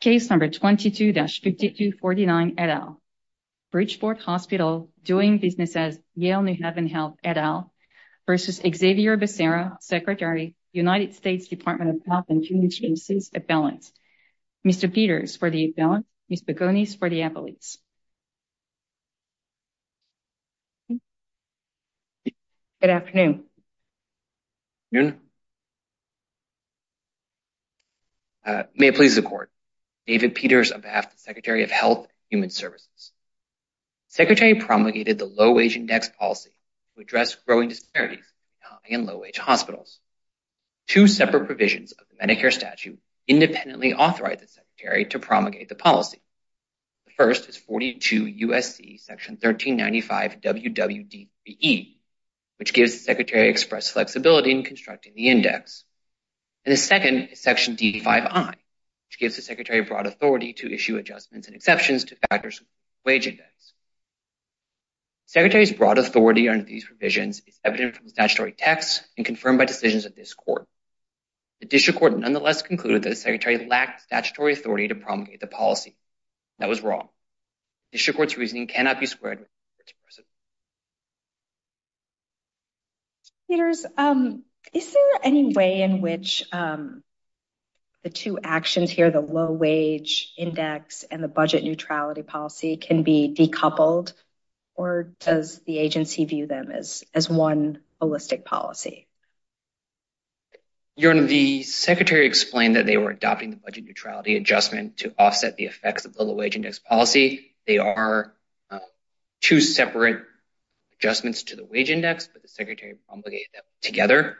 Case number 22-5249 et al. Bridgeport Hospital doing business as Yale New Haven Health et al. versus Xavier Becerra, Secretary, United States Department of Health and Human Services, appellant. Mr. Peters for the appellant, Ms. Begonis for the appellate. Good afternoon. Good afternoon. May it please the Court, David Peters on behalf of the Secretary of Health and Human Services. The Secretary promulgated the Low-Wage Index Policy to address growing disparities in high and low-wage hospitals. Two separate provisions of the Medicare statute independently authorize the Secretary to promulgate the policy. The first is 42 U.S.C. Section 1395WWD3E, which gives the Secretary express flexibility in constructing the index. And the second is Section D5I, which gives the Secretary broad authority to issue adjustments and exceptions to factors of the wage index. The Secretary's broad authority under these provisions is evident from statutory texts and confirmed by decisions of this Court. The District Court nonetheless concluded that the Secretary lacked statutory authority to address disparities in high and low-wage hospitals. Mr. Peters, is there any way in which the two actions here, the Low-Wage Index and the Budget Neutrality Policy, can be decoupled? Or does the agency view them as one holistic policy? Your Honor, the Secretary explained that they were adopting the Budget Neutrality Adjustment to offset the effects of the Low-Wage Index Policy. They are two separate adjustments to the wage index, but the Secretary promulgated them together.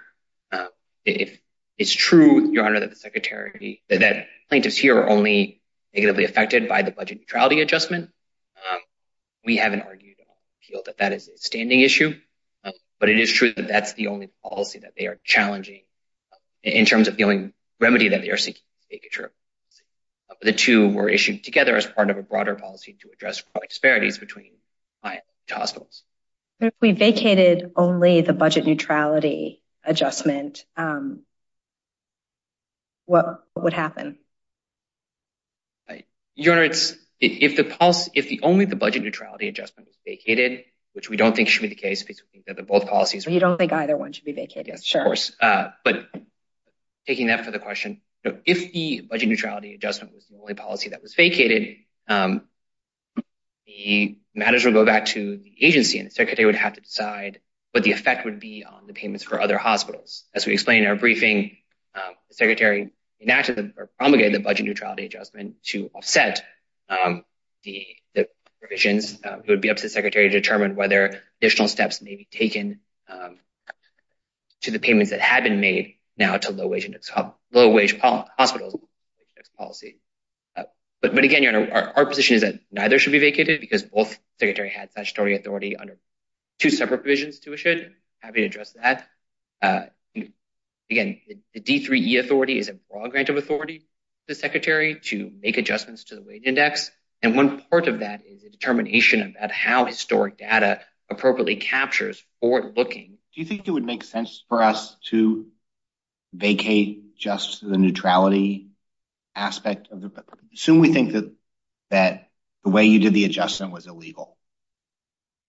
It's true, Your Honor, that the Secretary – that plaintiffs here are only negatively affected by the Budget Neutrality Adjustment. We haven't argued or appealed that that is a standing issue. But it is true that that's the only policy that they are challenging in terms of the only remedy that they are seeking to make it true. The two were issued together as part of a broader policy to address disparities between high and low-wage hospitals. But if we vacated only the Budget Neutrality Adjustment, what would happen? Your Honor, if only the Budget Neutrality Adjustment was vacated, which we don't think should be the case because we think that both policies – You don't think either one should be vacated? Yes, of course. But taking that for the question, if the Budget Neutrality Adjustment was the only policy that was vacated, the matters would go back to the agency and the Secretary would have to decide what the effect would be on the payments for other hospitals. As we explained in our briefing, the Secretary enacted or promulgated the Budget Neutrality Adjustment to offset the provisions. It would be up to the Secretary to determine whether additional steps may be taken to the payments that had been made now to low-wage hospitals. But again, Your Honor, our position is that neither should be vacated because both Secretaries had statutory authority under two separate provisions to issue it. I'm happy to address that. Again, the D3E authority is a broad grant of authority to the Secretary to make adjustments to the wage index, and one part of that is a determination about how historic data appropriately captures for looking. Do you think it would make sense for us to vacate just the neutrality aspect? Assume we think that that the way you did the adjustment was illegal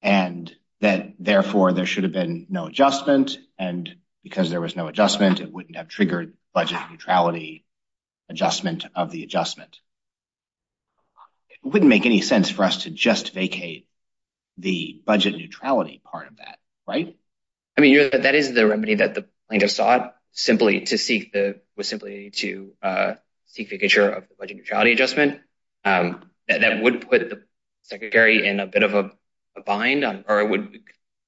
and that therefore there should have been no adjustment, and because there was no adjustment, it wouldn't have triggered Budget Neutrality Adjustment of the adjustment. It wouldn't make any sense for us to just vacate the Budget Neutrality part of that, right? I mean, that is the remedy that the plaintiff sought, was simply to seek vacature of the Budget Neutrality Adjustment. That would put the Secretary in a bit of a bind or it would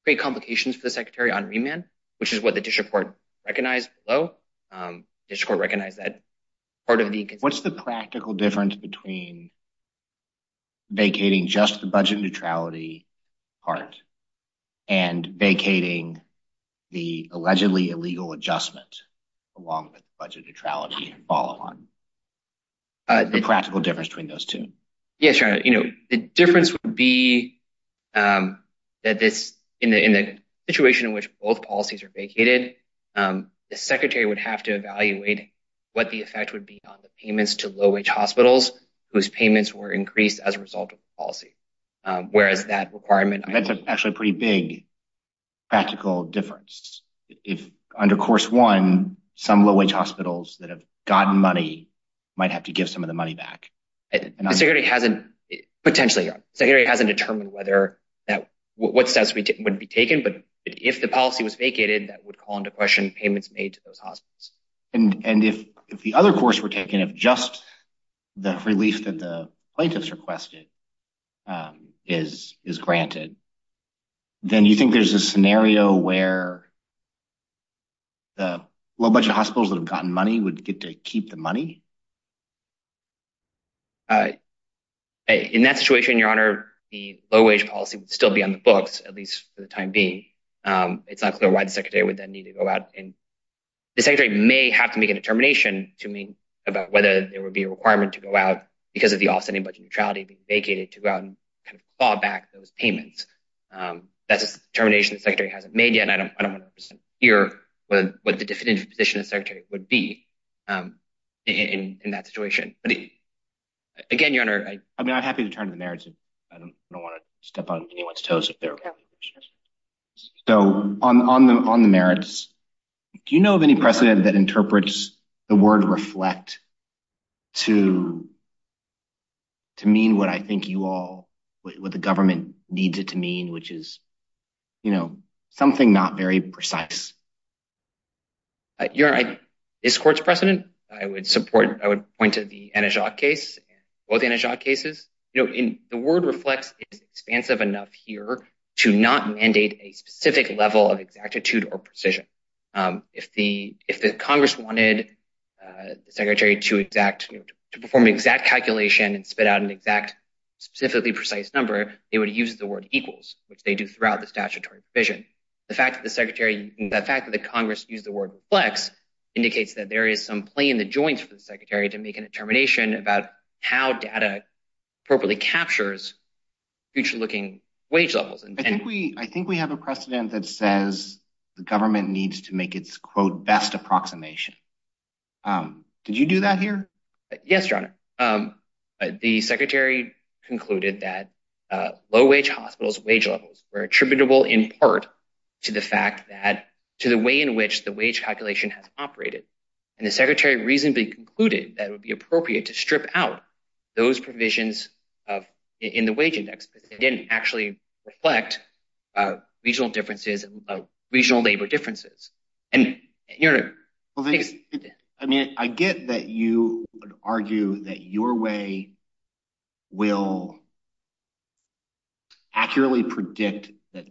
create complications for the Secretary on remand, which is what the District Court recognized. What's the practical difference between vacating just the Budget Neutrality part and vacating the allegedly illegal adjustment along with Budget Neutrality? The practical difference between those two? Yeah, sure. The difference would be that in the situation in which both policies are vacated, the Secretary would have to evaluate what the effect would be on the payments to low-wage hospitals whose payments were increased as a result of the policy, whereas that requirement... That's actually a pretty big practical difference. If under Course 1, some low-wage hospitals that have gotten money might have to give some of the money back. Potentially. The Secretary hasn't determined what steps would be taken, but if the policy was vacated, that would call into question payments made to those hospitals. And if the other course were taken, if just the relief that the plaintiffs requested is granted, then you think there's a keep the money? In that situation, Your Honor, the low-wage policy would still be on the books, at least for the time being. It's not clear why the Secretary would then need to go out. The Secretary may have to make a determination to me about whether there would be a requirement to go out because of the offsetting Budget Neutrality being vacated to go out and kind of fall back those payments. That's a determination the Secretary hasn't made yet, and I don't want to hear what the definitive position of the Secretary would be in that situation. Again, Your Honor... I'm happy to turn to the merits. I don't want to step on anyone's toes. So on the merits, do you know of any precedent that interprets the word reflect to to mean what I think you all, what the government needs it to mean, which is, you know, something not very precise? Your Honor, this court's precedent, I would support, I would point to the Antijoc case, both Antijoc cases. You know, the word reflects is expansive enough here to not mandate a specific level of exactitude or precision. If the Congress wanted the Secretary to perform exact calculation and spit out an exact, specifically precise number, they would use the word equals, which they do throughout the statutory provision. The fact that the Congress used the word reflects indicates that there is some play in the joints for the Secretary to make a determination about how data appropriately captures future-looking wage levels. I think we have a precedent that says the government needs to make its, quote, best approximation. Did you do that here? Yes, Your Honor. The Secretary concluded that low-wage hospitals' wage levels were attributable in part to the fact that, to the way in which the wage calculation has operated, and the Secretary reasonably concluded that it would be appropriate to strip out those provisions in the wage index, but it didn't actually reflect regional labor differences. I get that you would argue that your way will accurately predict that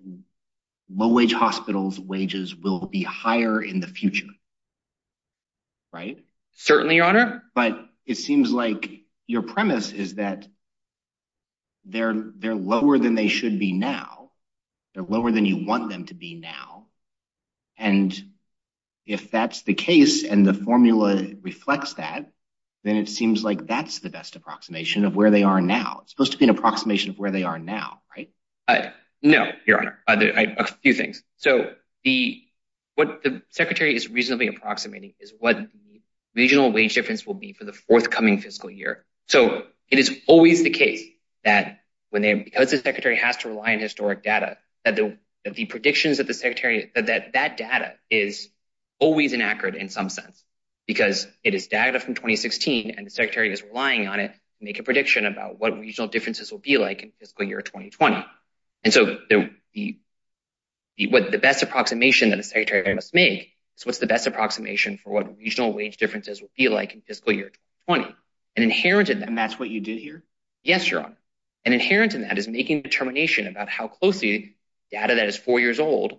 low-wage hospitals' wages will be higher in the future, right? Certainly, Your Honor. But it seems like your premise is that they're lower than they should be now. They're lower than you want them to be now, and if that's the case and the formula reflects that, then it seems like that's the best approximation of where they are now. It's supposed to be an approximation of where they are now, right? No, Your Honor. A few things. So, what the Secretary is reasonably approximating is what the regional wage difference will be for the forthcoming fiscal year. So, it is always the case that, because the Secretary has to rely on historic data, that data is always inaccurate in some sense, because it is data from 2016 and the Secretary is relying on it to make a prediction about what regional differences will be like in fiscal year 2020. And so, the best approximation that the Secretary must make is what's the best approximation for what regional wage differences will be like in fiscal year 2020. And inherent in that— And that's what you did here? Yes, Your Honor. And inherent in that is making a determination about how closely data that is four years old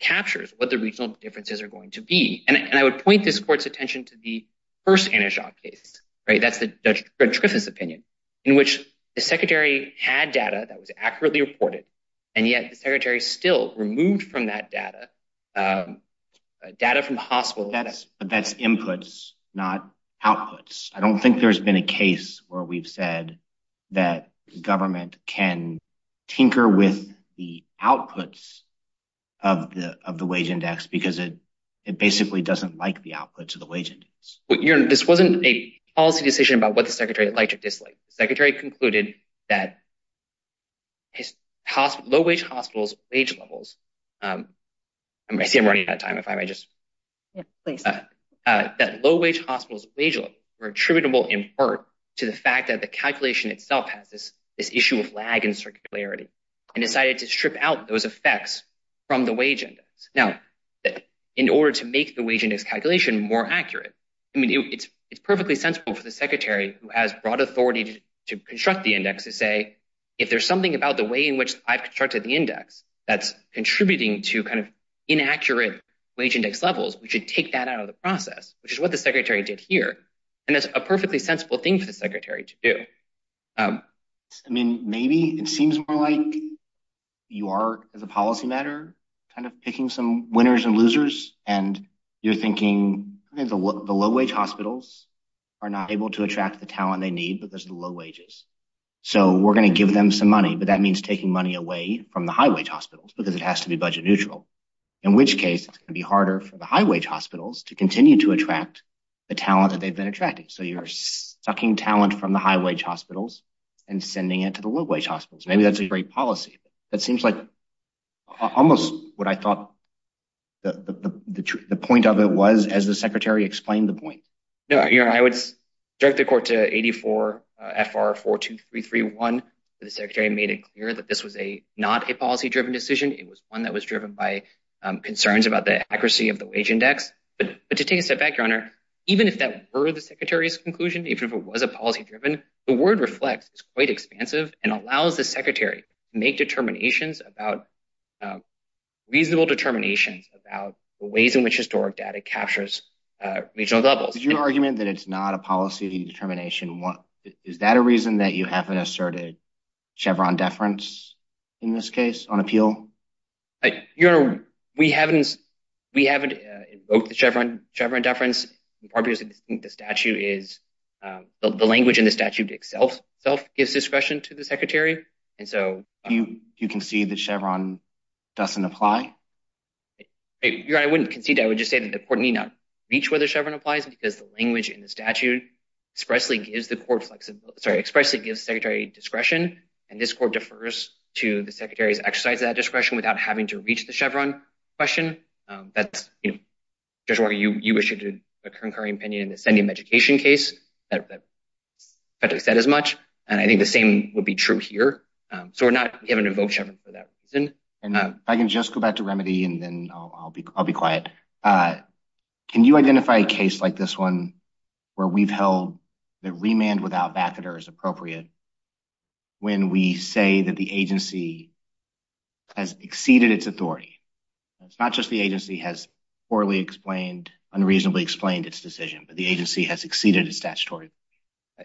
captures what the regional differences are going to be. And I would point this Court's attention to the first Anijot case, right? That's the Judge Griffith's opinion, in which the Secretary had data that was accurately reported, and yet the But that's inputs, not outputs. I don't think there's been a case where we've said that government can tinker with the outputs of the wage index, because it basically doesn't like the outputs of the wage index. Well, Your Honor, this wasn't a policy decision about what the Secretary liked or disliked. The Secretary concluded that low-wage hospitals' wage levels—I see I'm running out of time, if I might just— Yeah, please. That low-wage hospitals' wage levels were attributable, in part, to the fact that the calculation itself has this issue of lag and circularity, and decided to strip out those effects from the wage index. Now, in order to make the wage index calculation more accurate, I mean, it's perfectly sensible for the Secretary, who has broad authority to construct the index, to say, if there's something about the way in which I've constructed the index that's levels, we should take that out of the process, which is what the Secretary did here. And that's a perfectly sensible thing for the Secretary to do. I mean, maybe it seems more like you are, as a policy matter, kind of picking some winners and losers, and you're thinking, the low-wage hospitals are not able to attract the talent they need because of the low wages. So we're going to give them some money, but that means taking money away from the high-wage hospitals, because it has to be budget neutral, in which case it's going to be harder for the high-wage hospitals to continue to attract the talent that they've been attracting. So you're sucking talent from the high-wage hospitals and sending it to the low-wage hospitals. Maybe that's a great policy. That seems like almost what I thought the point of it was, as the Secretary explained the point. No, I would direct the Court to 84 FR 42331. The Secretary made it clear that this was not a concern about the accuracy of the wage index. But to take a step back, Your Honor, even if that were the Secretary's conclusion, even if it was a policy-driven, the word reflects it's quite expansive and allows the Secretary to make reasonable determinations about the ways in which historic data captures regional levels. Is your argument that it's not a policy determination? Is that a reason that you haven't asserted Chevron deference in this case on appeal? Your Honor, we haven't invoked the Chevron deference in part because we think the language in the statute itself gives discretion to the Secretary. You concede that Chevron doesn't apply? Your Honor, I wouldn't concede. I would just say that the Court need not reach whether Chevron applies because the language in the statute expressly gives the Secretary discretion, and this Court defers to the Secretary's exercise of that discretion without having to reach the Chevron question. That's, you know, just where you issued a concurring opinion in the Sendium education case that effectively said as much, and I think the same would be true here. So, we're not going to invoke Chevron for that reason. And if I can just go back to remedy, and then I'll be quiet. Can you identify a case like this one where we've held that remand without baffling is appropriate when we say that the agency has exceeded its authority? It's not just the agency has poorly explained, unreasonably explained its decision, but the agency has exceeded its statutory.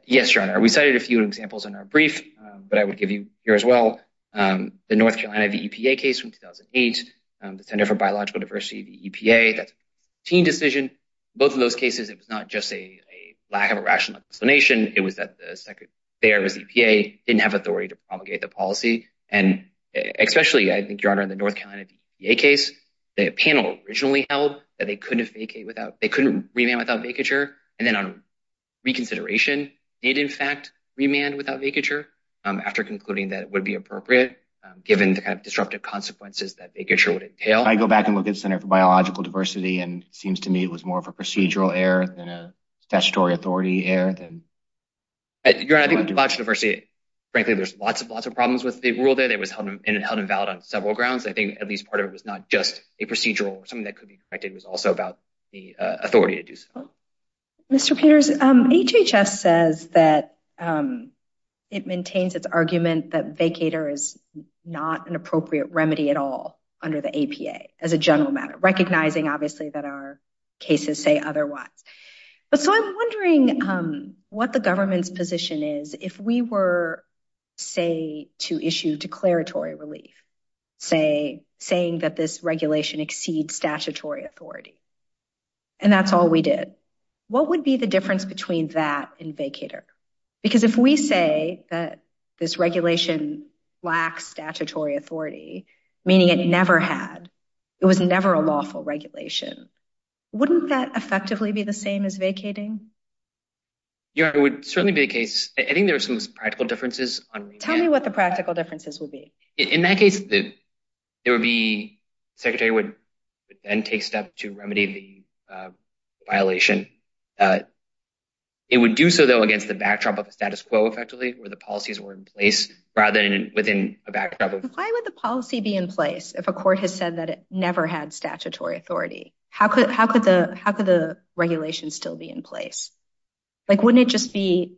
Yes, Your Honor, we cited a few examples in our brief, but I would give you here as well. The North Carolina VEPA case from 2008, the Center for Biological Diversity, the EPA, that's a team decision. Both of those cases, it was not just a lack of a rational explanation. It was that the Secretary of EPA didn't have authority to promulgate the policy. And especially, I think, Your Honor, in the North Carolina VEPA case, the panel originally held that they couldn't vacate without, they couldn't remand without vacature. And then on reconsideration, it in fact remand without vacature after concluding that it would be appropriate given the kind of disruptive consequences that vacature would entail. I go back and look at the Center for Biological Diversity, and it seems to me it was more of a statutory authority error than... Your Honor, I think with biological diversity, frankly, there's lots and lots of problems with the rule there. It was held invalid on several grounds. I think at least part of it was not just a procedural or something that could be corrected. It was also about the authority to do so. Mr. Peters, HHS says that it maintains its argument that vacator is not an appropriate remedy at all under the APA as a general matter, recognizing, obviously, that our cases say otherwise. But so I'm wondering what the government's position is if we were, say, to issue declaratory relief, say, saying that this regulation exceeds statutory authority, and that's all we did. What would be the difference between that and vacator? Because if we say that this regulation lacks statutory authority, meaning it never had, it was never a lawful regulation, wouldn't that effectively be the same as vacating? Your Honor, it would certainly be the case. I think there are some practical differences on... Tell me what the practical differences would be. In that case, there would be... Secretary would then take steps to remedy the violation. It would do so, though, against the backdrop of the status quo, effectively, where the policies were in place rather than a backdrop of... Why would the policy be in place if a court has said that it never had statutory authority? How could the regulation still be in place? Wouldn't it just be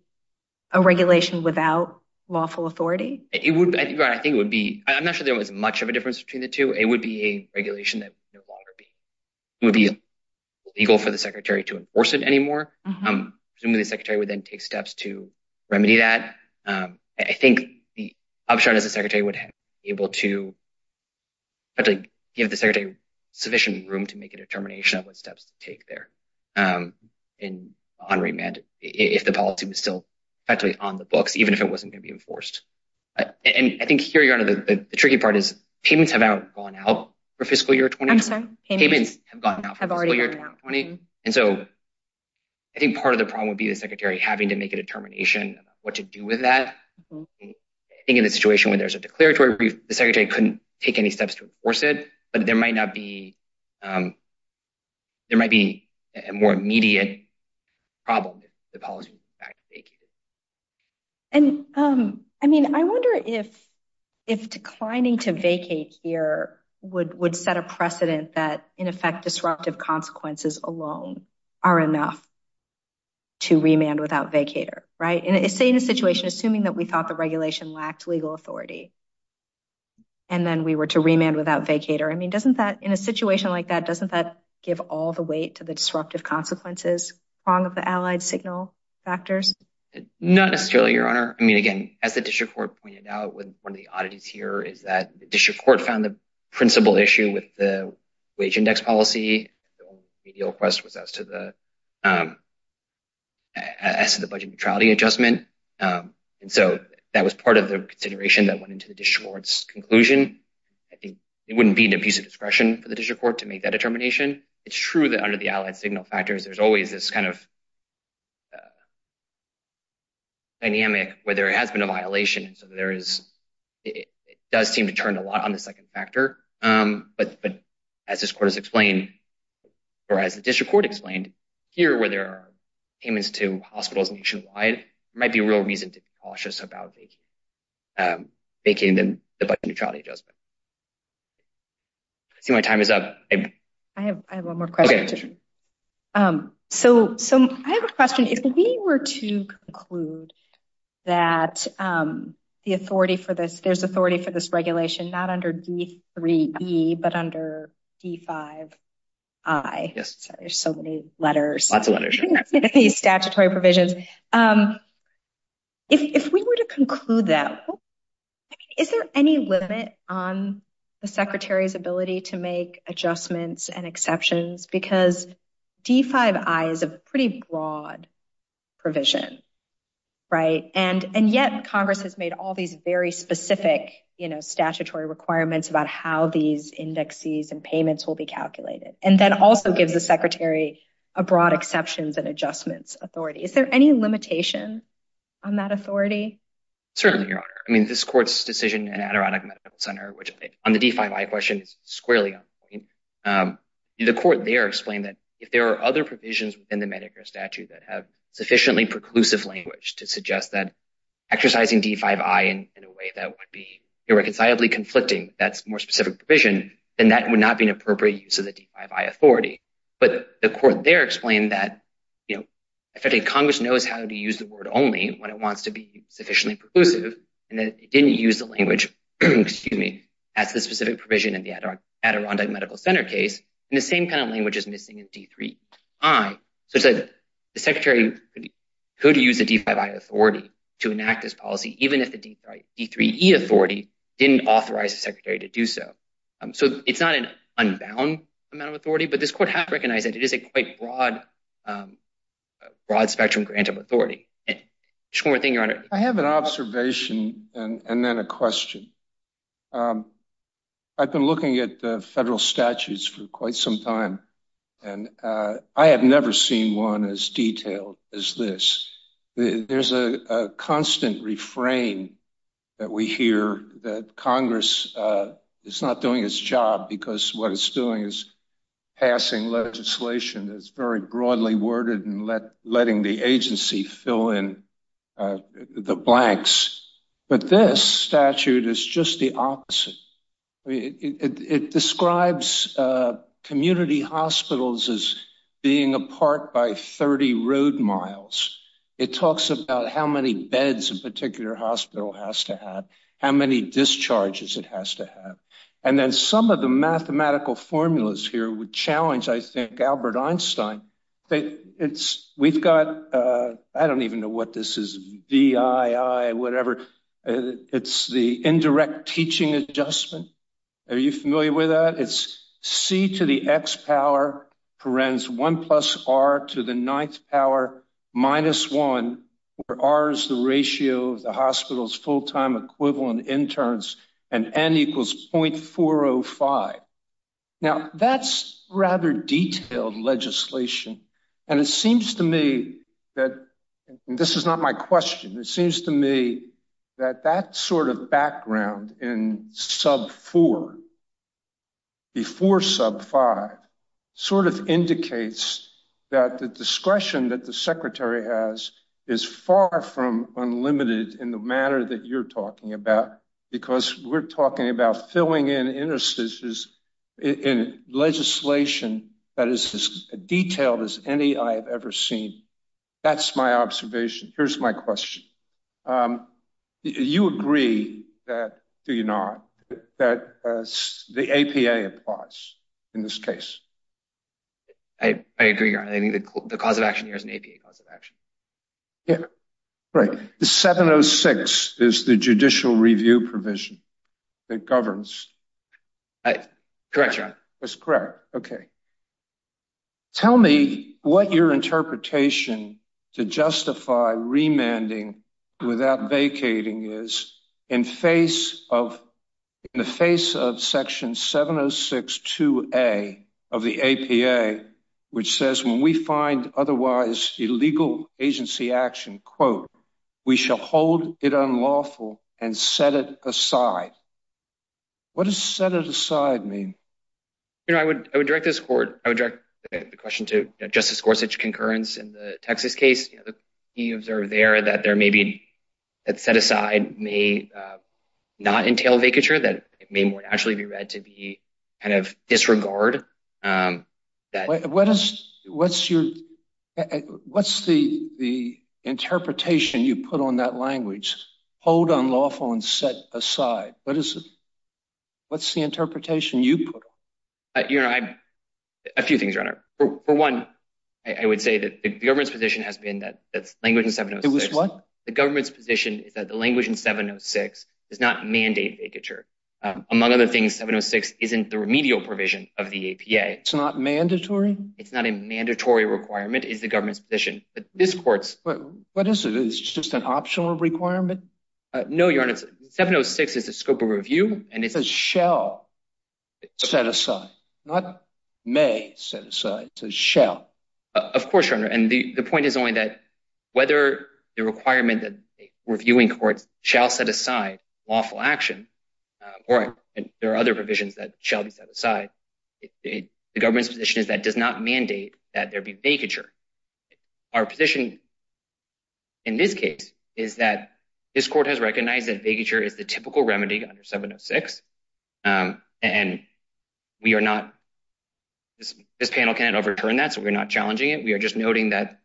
a regulation without lawful authority? Your Honor, I think it would be... I'm not sure there was much of a difference between the two. It would be a regulation that would no longer be... It would be illegal for the secretary to enforce it anymore. Presumably, the secretary would then take steps to be able to give the secretary sufficient room to make a determination of what steps to take there on remand, if the policy was still effectively on the books, even if it wasn't going to be enforced. I think here, Your Honor, the tricky part is payments have now gone out for fiscal year 2020. I'm sorry? Payments have gone out for fiscal year 2020. I think part of the problem would be the secretary having to make a determination about what to do with that. I think in a situation where there's a declaratory brief, the secretary couldn't take any steps to enforce it, but there might not be... There might be a more immediate problem. I wonder if declining to vacate here would set a precedent that, in effect, disruptive consequences alone are enough to remand without vacater. Say in a situation, assuming that we thought the regulation lacked legal authority, and then we were to remand without vacater. In a situation like that, doesn't that give all the weight to the disruptive consequences along with the allied signal factors? Not necessarily, Your Honor. Again, as the district court pointed out with one of the oddities here is that the district court found the principal issue with the wage index policy. The only remedial request was as to the budget neutrality adjustment. And so that was part of the consideration that went into the district court's conclusion. I think it wouldn't be an abusive discretion for the district court to make that determination. It's true that under the allied signal factors, there's always this dynamic where there has been a violation. It does seem to turn a lot on the second factor. But as this court has explained, or as the district court explained, here where there are payments to hospitals nationwide, there might be real reason to be cautious about making the budget neutrality adjustment. I see my time is up. I have one more question. So I have a question. If we were to conclude that there's authority for this lots of letters, statutory provisions. If we were to conclude that, is there any limit on the secretary's ability to make adjustments and exceptions? Because D5I is a pretty broad provision, right? And yet Congress has made all these very specific statutory requirements about how these indexes and payments will be calculated. And then also gives the secretary a broad exceptions and adjustments authority. Is there any limitation on that authority? Certainly, your honor. I mean, this court's decision in Adirondack Medical Center, which on the D5I question is squarely on point. The court there explained that if there are other provisions within the Medicare statute that have sufficiently preclusive language to suggest that that's more specific provision, then that would not be an appropriate use of the D5I authority. But the court there explained that, you know, effectively Congress knows how to use the word only when it wants to be sufficiently preclusive. And then it didn't use the language, excuse me, as the specific provision in the Adirondack Medical Center case. And the same kind of language is missing in D3I. So the secretary could use the D5I authority to enact this policy, even if the D3E authority didn't authorize the secretary to do so. So it's not an unbound amount of authority, but this court has recognized that it is a quite broad spectrum grant of authority. Just one more thing, your honor. I have an observation and then a question. I've been looking at the federal statutes for quite some time, and I have never seen one as detailed as this. There's a constant refrain that we hear that Congress is not doing its job because what it's doing is passing legislation that's very broadly worded and letting the agency fill in the blanks. But this statute is just the opposite. It describes community hospitals as being apart by 30 road miles. It talks about how many beds a particular hospital has to have, how many discharges it has to have. And then some of the mathematical formulas here would challenge, I think, Albert Einstein. We've got, I don't even know what this is, VII, whatever. It's the indirect teaching adjustment. Are you familiar with that? It's C to the X power, parens one plus R to the ninth power minus one, where R is the ratio of the hospital's full-time equivalent interns, and N equals 0.405. Now that's rather detailed legislation. And it seems to me that, and this is not my question, it seems to me that that sort of background in sub four before sub five sort of indicates that the discretion that the secretary has is far from unlimited in the manner that you're talking about, because we're talking about filling in interstices in legislation that is as detailed as any I have ever seen. That's my observation. Here's my question. You agree that, do you not, that the APA applies in this case? I agree. I think the cause of action here is an APA cause of action. Yeah. Right. The 706 is the judicial review provision that governs. Correct, John. That's correct. Okay. Tell me what your interpretation to justify remanding without vacating is in face of, in the face of section 706-2A of the APA, which says when we find otherwise illegal agency action, quote, we shall hold it unlawful and set it aside. What does set it aside mean? I would direct this court, I would direct the question to Justice Gorsuch concurrence in the that it may more naturally be read to be kind of disregard. What's the interpretation you put on that language, hold unlawful and set aside? What's the interpretation you put on it? A few things, Your Honor. For one, I would say that the government's position has been that language in 706- It was what? Among other things, 706 isn't the remedial provision of the APA. It's not mandatory? It's not a mandatory requirement, is the government's position. But this court's- What is it? It's just an optional requirement? No, Your Honor. 706 is the scope of review and it's- It says shall set aside, not may set aside. It says shall. Of course, Your Honor. And the point is only that whether the requirement that there are other provisions that shall be set aside, the government's position is that does not mandate that there be vacature. Our position in this case is that this court has recognized that vacature is the typical remedy under 706 and we are not- This panel can't overturn that, so we're not challenging it. We are just noting that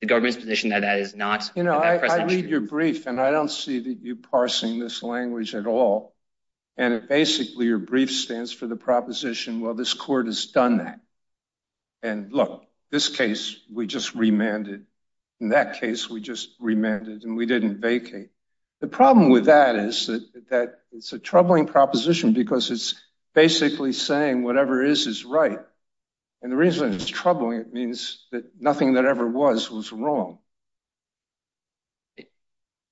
the government's position that that is not- You know, I read your brief and I don't see that you parsing this language at all. And basically, your brief stands for the proposition, well, this court has done that. And look, this case, we just remanded. In that case, we just remanded and we didn't vacate. The problem with that is that it's a troubling proposition because it's basically saying whatever is is right. And the reason it's troubling, it means that nothing that ever was was wrong.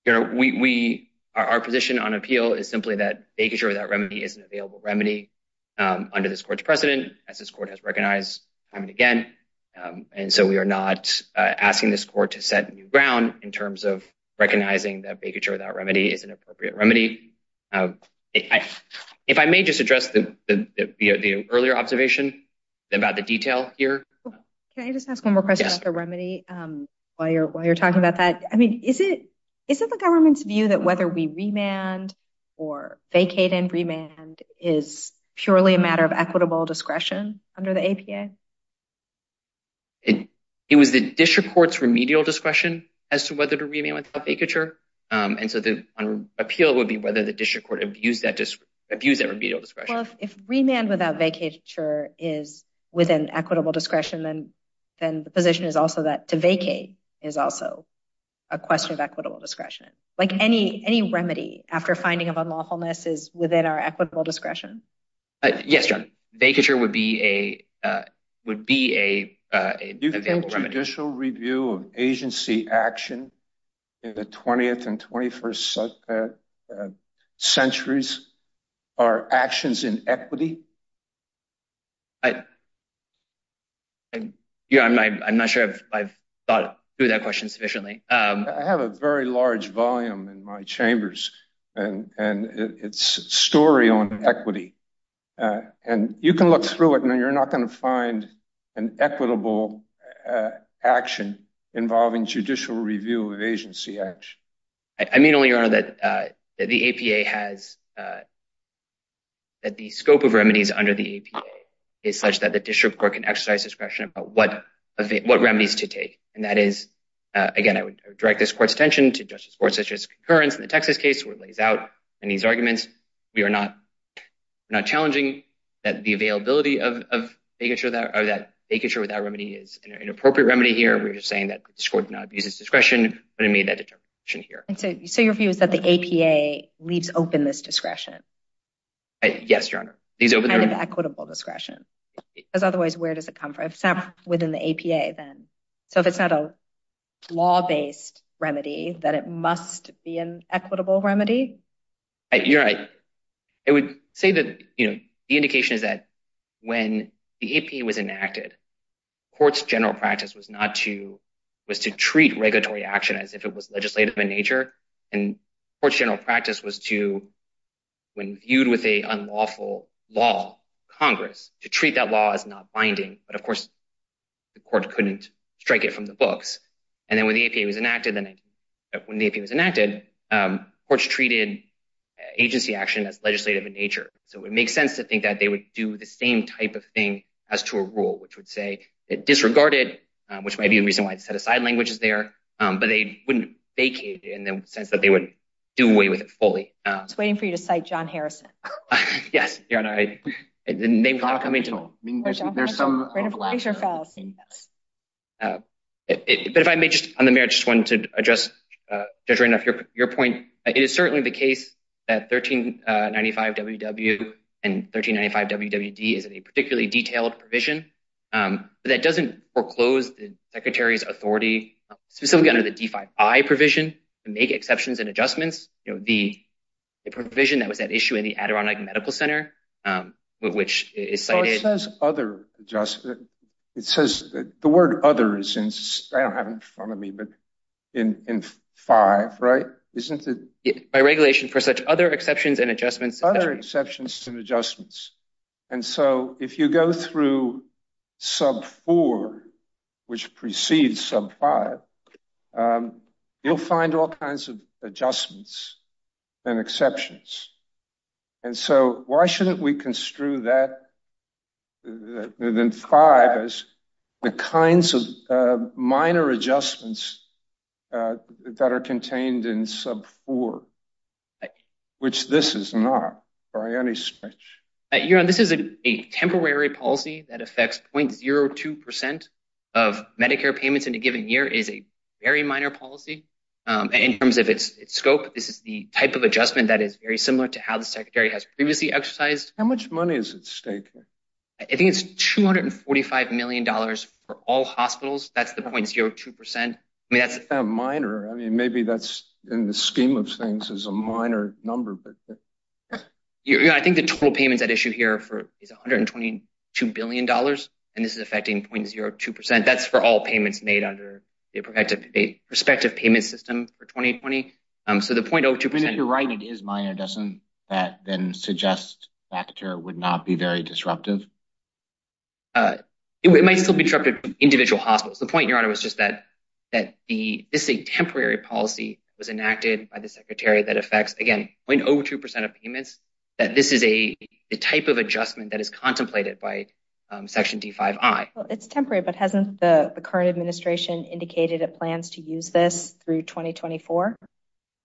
Your Honor, we- Our position on appeal is simply that vacature without remedy is an available remedy under this court's precedent, as this court has recognized time and again. And so, we are not asking this court to set new ground in terms of recognizing that vacature without remedy is an appropriate remedy. If I may just address the earlier observation about the detail here. Can I just ask one more question about the remedy? Yes. While you're talking about that, I mean, is it the government's view that whether we remand or vacate and remand is purely a matter of equitable discretion under the APA? It was the district court's remedial discretion as to whether to remand without vacature. And so, the appeal would be whether the district court abused that remedial discretion. If remand without vacature is within equitable discretion, then the position is also that to vacate is also a question of equitable discretion. Like any remedy after finding of unlawfulness is within our equitable discretion. Yes, Your Honor. Vacature would be a- Would be a- Do you think judicial review of agency action in the 20th and 21st centuries are actions in equity? I'm not sure if I've thought through that question sufficiently. I have a very large volume in my chambers, and it's a story on equity. And you can look through it, and you're not going to find an equitable action involving judicial review of agency action. I mean only, Your Honor, that the APA has- that the scope of remedies under the APA is such that the district court can exercise discretion about what remedies to take. And that is, again, I would direct this court's attention to justice courts such as concurrence in the Texas case where it lays out in these arguments. We are not challenging that the availability of vacature without remedy is an inappropriate remedy here. We're just saying that the district court did not abuse its discretion, but it made that determination here. And so, your view is that the APA leaves open this discretion? Yes, Your Honor. These open- Kind of equitable discretion. Because otherwise, where does it come from? Within the APA, then. So, if it's not a law-based remedy, then it must be an equitable remedy? You're right. I would say that, you know, the indication is that when the APA was enacted, courts' general practice was not to- was to treat regulatory action as if it was legislative in nature. And courts' general practice was to, when viewed with an unlawful law, Congress, to treat that law as not binding. But, of course, the court couldn't strike it from the books. And then, when the APA was enacted, courts treated agency action as legislative in nature. So, it would make sense to think that they would do the same type of thing as to a rule, which would say it disregarded, which might be the reason why it set aside languages there, but they wouldn't vacate it in the sense that they would do away with it fully. I was waiting for you to cite John Harrison. Yes, Your Honor. I didn't- I mean, there's some- But if I may, just on the merits, I just wanted to address, Judge Randolph, your point. It is certainly the case that 1395WW and 1395WWD is a particularly detailed provision, but that doesn't foreclose the Secretary's authority, specifically under the D5I provision, to make exceptions and adjustments. You know, the provision that was at issue in the Adirondack Medical Center, which is cited- It says other adjustments. It says- the word other is in- I don't have it in front of me, but in 5, right? Isn't it- By regulation for such other exceptions and adjustments- Other exceptions and adjustments. And so, if you go through sub 4, which precedes sub 5, you'll find all kinds of adjustments and exceptions. And so, why shouldn't we construe that, within 5, as the kinds of minor adjustments that are contained in sub 4, which this is not, by any stretch. Your Honor, this is a temporary policy that affects 0.02 percent of Medicare payments in a given year. It is a very minor policy in terms of its scope. This is the type of adjustment that is very similar to how the Secretary has previously exercised- How much money is at stake here? I think it's $245 million for all hospitals. That's the 0.02 percent. I mean, that's- It's not minor. I mean, maybe that's, in the scheme of things, is a minor number, but- I think the total payments at issue here is $122 billion, and this is affecting 0.02 percent. That's for all payments made under the prospective payment system for 2020. So, the 0.02 percent- Even if you're right, it is minor, doesn't that then suggest that it would not be very disruptive? It might still be disruptive for individual hospitals. The point, Your Honor, was just that this is a temporary policy that was enacted by the Secretary that affects, again, 0.02 percent of payments, that this is the type of adjustment that is contemplated by Section D5I. It's temporary, but hasn't the current administration indicated it plans to use this through 2024?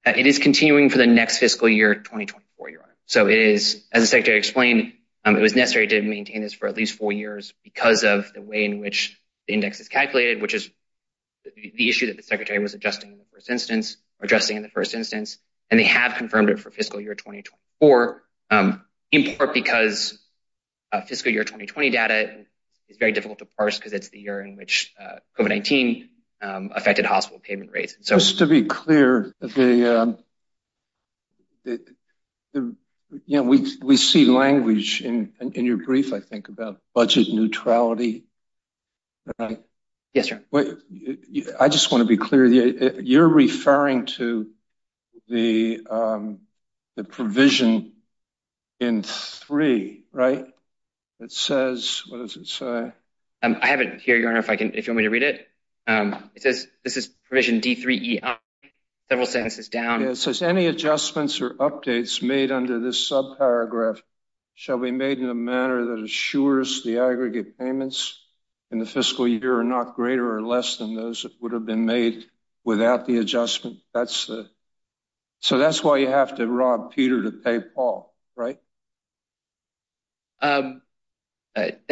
It is continuing for the next fiscal year, 2024, Your Honor. So, it is, as the Secretary explained, it was necessary to maintain this for at least four years because of the way in which the index is calculated, which is the issue that the Secretary was adjusting in the first instance, and they have confirmed it for fiscal year 2024, in part because fiscal year 2020 data is very difficult to parse because it's the year in which COVID-19 affected hospital payment rates. Just to be clear, we see language in your brief, I think, about budget neutrality, right? Yes, Your Honor. I just want to be clear, you're referring to the provision in 3, right? It says, what does it say? I have it here, Your Honor, if you want me to read it. It says, this is provision D3E, several sentences down. It says, any adjustments or updates made under this subparagraph shall be made in a manner that assures the aggregate payments in the fiscal year are not greater or less than those that would have been made without the adjustment. So, that's why you have to rob Peter to pay Paul, right? That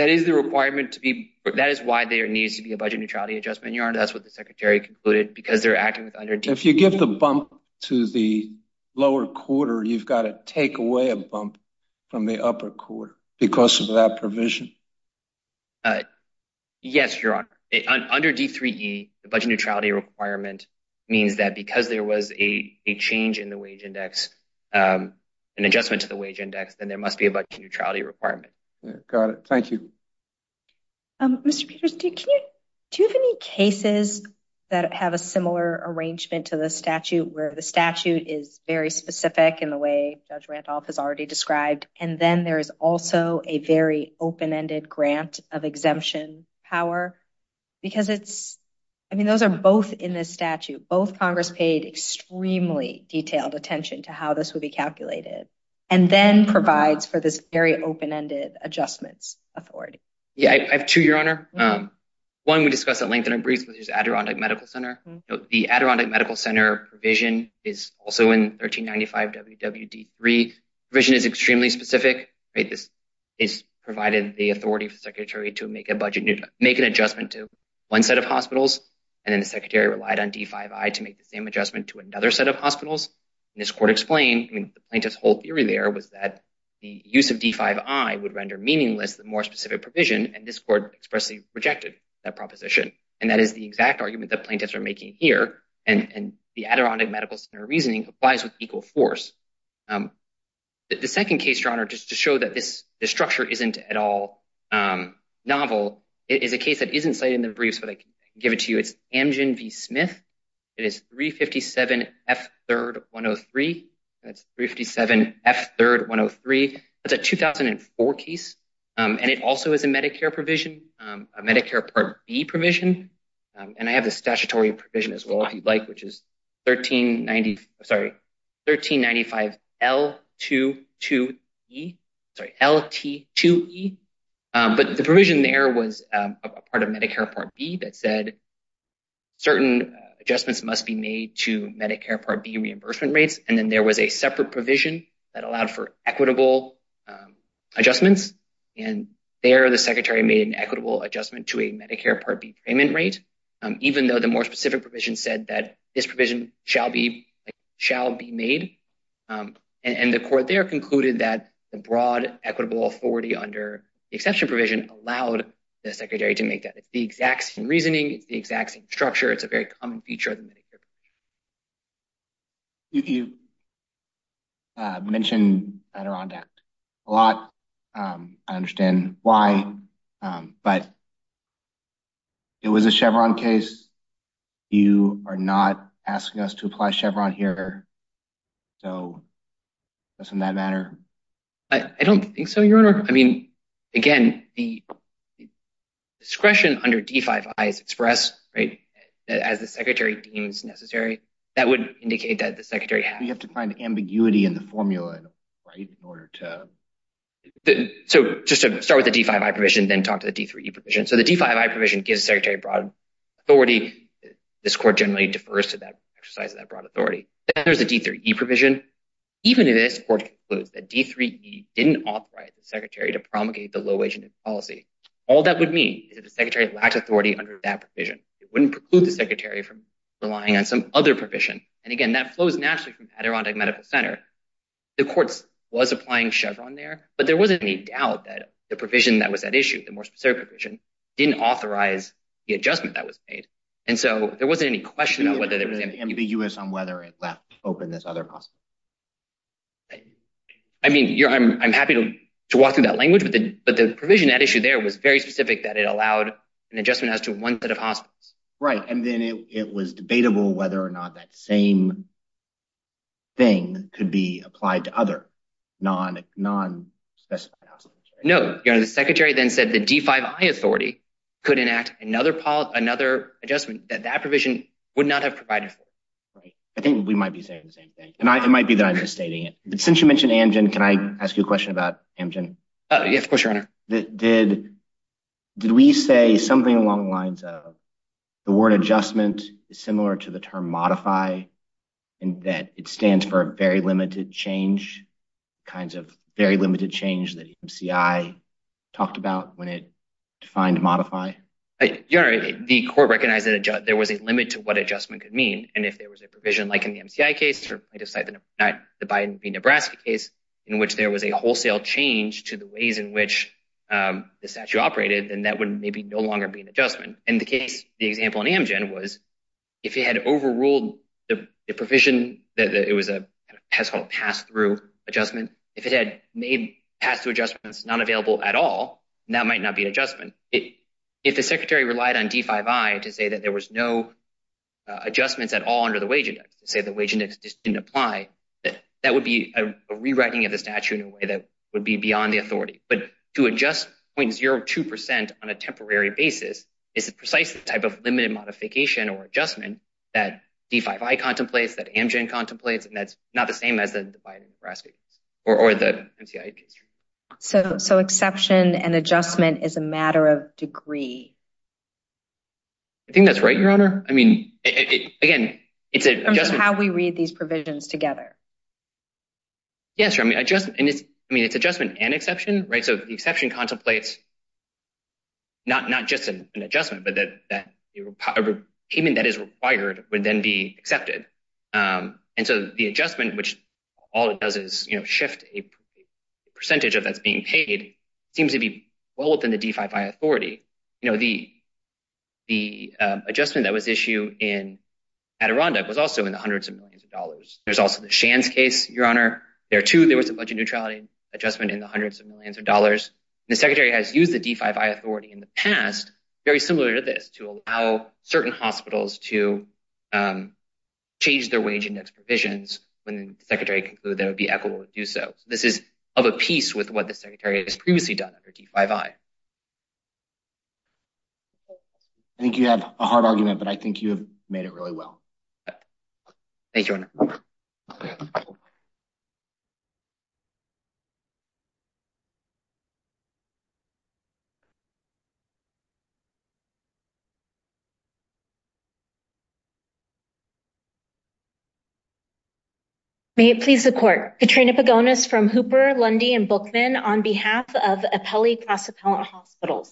is the requirement to be, that is why there needs to be a budget neutrality adjustment, that's what the Secretary concluded, because they're acting under D3E. If you give the bump to the lower quarter, you've got to take away a bump from the upper quarter because of that provision? Yes, Your Honor. Under D3E, the budget neutrality requirement means that because there was a change in the wage index, an adjustment to the wage index, then there must be a budget neutrality requirement. Got it, thank you. Mr. Peters, do you have any cases that have a similar arrangement to the statute, where the statute is very specific in the way Judge Randolph has already described, and then there is also a very open-ended grant of exemption power? Because it's, I mean, those are both in this statute. Both Congress paid extremely detailed attention to how this would be calculated, and then Yeah, I have two, Your Honor. One we discussed at length in our briefs, which is Adirondack Medical Center. The Adirondack Medical Center provision is also in 1395 WWD3. The provision is extremely specific, right? This is providing the authority for the Secretary to make a budget, make an adjustment to one set of hospitals, and then the Secretary relied on D5I to make the same adjustment to another set of hospitals. And this court explained, I mean, the plaintiff's whole theory there was that the use of D5I would render meaningless the more specific provision, and this court expressly rejected that proposition. And that is the exact argument that plaintiffs are making here, and the Adirondack Medical Center reasoning applies with equal force. The second case, Your Honor, just to show that this structure isn't at all novel, is a case that isn't cited in the briefs, but I can give it to you. It's Amgen v. Smith. It is 357 F3rd 103. That's 357 F3rd 103. That's a 2004 case, and it also is a Medicare provision, a Medicare Part B provision. And I have the statutory provision as well, if you'd like, which is 1390, sorry, 1395 L22E, sorry, LT2E. But the provision there was a part of Medicare Part B that said certain adjustments must be made to Medicare Part B reimbursement rates, and then there was a separate provision that required equitable adjustments, and there the Secretary made an equitable adjustment to a Medicare Part B payment rate, even though the more specific provision said that this provision shall be made. And the court there concluded that the broad equitable authority under the exception provision allowed the Secretary to make that. It's the exact same reasoning. It's the exact same structure. It's a very common feature of the Medicare provision. You mentioned Adirondack a lot. I understand why, but it was a Chevron case. You are not asking us to apply Chevron here, so doesn't that matter? I don't think so, Your Honor. I mean, again, the discretion under D5I is expressed, right, as the Secretary deems necessary. That would indicate that the Secretary had— You have to find ambiguity in the formula, right, in order to— So just to start with the D5I provision, then talk to the D3E provision. So the D5I provision gives the Secretary broad authority. This Court generally defers to that exercise of that broad authority. Then there's the D3E provision. Even in this, the Court concludes that D3E didn't authorize the Secretary to promulgate the low-agent policy. All that would mean is that the Secretary lacked authority under that provision. It wouldn't preclude the Secretary from relying on some other provision. And again, that flows naturally from Adirondack Medical Center. The Court was applying Chevron there, but there wasn't any doubt that the provision that was at issue, the more specific provision, didn't authorize the adjustment that was made. And so there wasn't any question about whether there was any— Ambitious on whether it left open this other possibility. I mean, Your Honor, I'm happy to walk through that language, but the provision at issue there was very specific that it allowed an adjustment as to one set of hospitals. Right, and then it was debatable whether or not that same thing could be applied to other non-specified hospitals. No, Your Honor. The Secretary then said the D5I authority could enact another adjustment that that provision would not have provided for. Right. I think we might be saying the same thing, and it might be that I'm misstating it. Since you mentioned Amgen, can I ask you a question about Amgen? Yes, of course, Your Honor. Did we say something along the lines of the word adjustment is similar to the term modify, and that it stands for very limited change, kinds of very limited change that MCI talked about when it defined modify? Your Honor, the court recognized that there was a limit to what adjustment could mean, and if there was a provision like in the MCI case, or let's say the Biden v. Nebraska case, in which there was a wholesale change to the ways in which the statute operated, then that would maybe no longer be an adjustment. In the case, the example in Amgen was, if it had overruled the provision that it was a pass-through adjustment, if it had made pass-through adjustments not available at all, that might not be an adjustment. If the Secretary relied on D5I to say that there was no adjustments at all under the wage index, say the wage index didn't apply, that would be a rewriting of the statute in a way that would be beyond the authority. But to adjust 0.02% on a temporary basis is the precise type of limited modification or adjustment that D5I contemplates, that Amgen contemplates, and that's not the same as the Biden v. Nebraska or the MCI case. So exception and adjustment is a matter of degree? I think that's right, Your Honor. I mean, again, it's an adjustment. How we read these provisions together. Yes, Your Honor, I mean, it's adjustment and exception, right? So the exception contemplates not just an adjustment, but a payment that is required would then be accepted. And so the adjustment, which all it does is shift a percentage of what's being paid, seems to be well within the D5I authority. You know, the adjustment that was issued in Adirondack was also in the hundreds of millions of dollars. There's also the Shands case, Your Honor. There, too, there was a budget neutrality adjustment in the hundreds of millions of dollars. The Secretary has used the D5I authority in the past, very similar to this, to allow certain hospitals to change their wage index provisions when the Secretary concluded that it would be equitable to do so. This is of a piece with what the Secretary has previously done under D5I. I think you have a hard argument, but I think you have made it really well. Thank you, Your Honor. May it please the Court. Katrina Pagonis from Hooper, Lundy, and Bookman on behalf of Apelli Cross-Appellate Hospitals.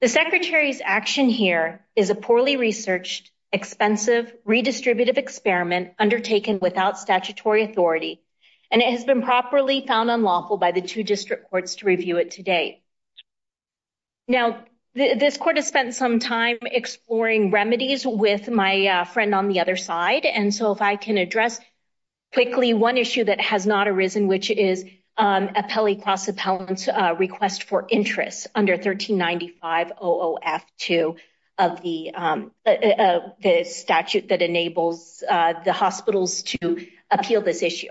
The Secretary's action here is a poorly researched, expensive, redistributive experiment undertaken without statutory authority, and it has been properly found unlawful by the two district courts to review it to date. Now, this Court has spent some time exploring remedies with my friend on the other side, and so if I can address quickly one issue that has not arisen, which is Apelli Cross-Appellant's interest under 1395-002 of the statute that enables the hospitals to appeal this issue.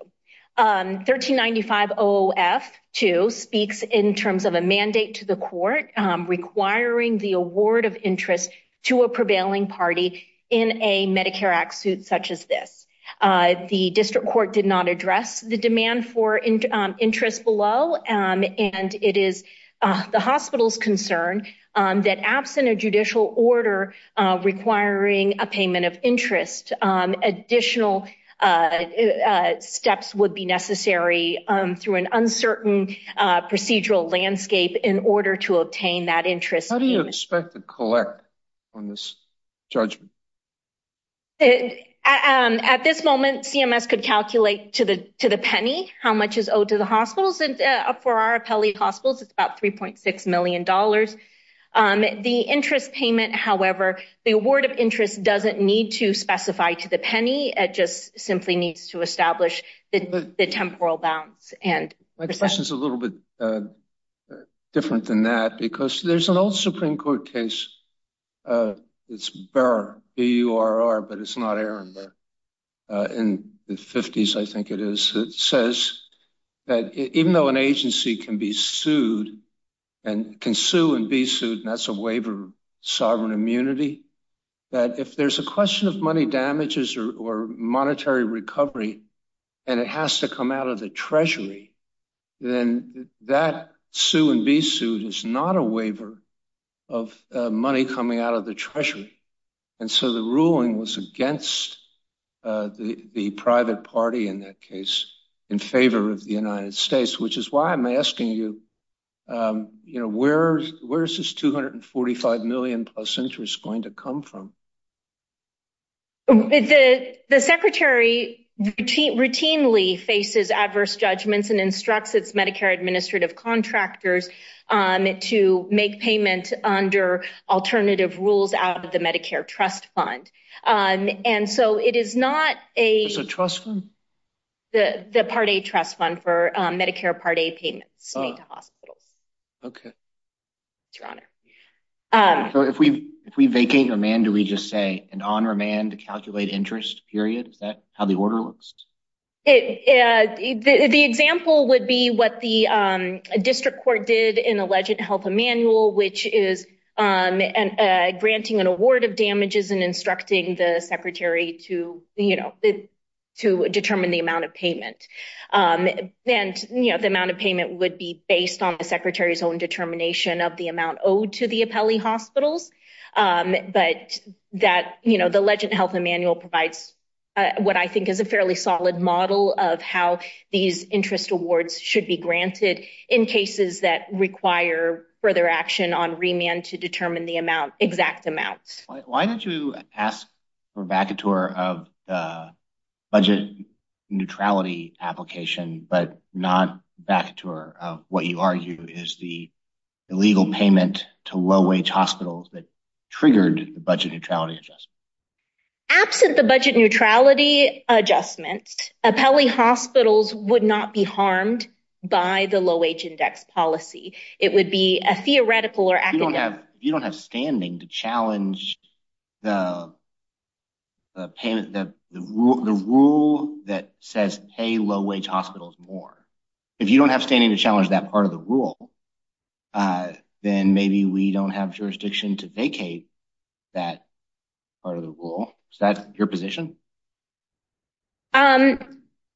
1395-002 speaks in terms of a mandate to the Court requiring the award of interest to a prevailing party in a Medicare Act suit such as this. The district court did not address the demand for interest below, and it is the hospital's concern that absent a judicial order requiring a payment of interest, additional steps would be necessary through an uncertain procedural landscape in order to obtain that interest. How do you expect to collect on this judgment? At this moment, CMS could calculate to the penny how much is owed to the hospitals, and for our Apelli Hospitals, it's about $3.6 million. The interest payment, however, the award of interest doesn't need to specify to the penny. It just simply needs to establish the temporal balance. My question is a little bit different than that, because there's an old Supreme Court case, it's Burr, B-U-R-R, but it's not Aaron Burr, in the 50s, I think it is, that says that even though an agency can be sued, and can sue and be sued, and that's a waiver of sovereign immunity, that if there's a question of money damages or monetary recovery, and it has to come out of the Treasury, then that sue and be sued is not a waiver of money coming out of the Treasury. And so the ruling was against the private party in that case, in favor of the United States, which is why I'm asking you, where is this $245 million plus interest going to come from? The Secretary routinely faces adverse judgments and instructs its Medicare administrative contractors to make payment under alternative rules out of the Medicare trust fund. And so it is not a- It's a trust fund? The Part A trust fund for Medicare Part A payments made to hospitals. Oh, okay. It's your honor. So if we vacate remand, do we just say an on-remand to calculate interest, period? Is that how the order looks? The example would be what the district court did in Alleged Health Emanuel, which is granting an award of damages and instructing the Secretary to determine the amount of payment. And the amount of payment would be based on the Secretary's own determination of the hospitals. But the Alleged Health Emanuel provides what I think is a fairly solid model of how these interest awards should be granted in cases that require further action on remand to determine the exact amounts. Why don't you ask for a vacatur of the budget neutrality application, but not vacatur of what you argue is the illegal payment to low-wage hospitals that triggered the budget neutrality adjustment? Absent the budget neutrality adjustment, Appellee Hospitals would not be harmed by the low-wage index policy. It would be a theoretical or academic- You don't have standing to challenge the rule that says pay low-wage hospitals more. If you don't have standing to challenge that part of the rule, then maybe we don't have jurisdiction to vacate that part of the rule. Is that your position? I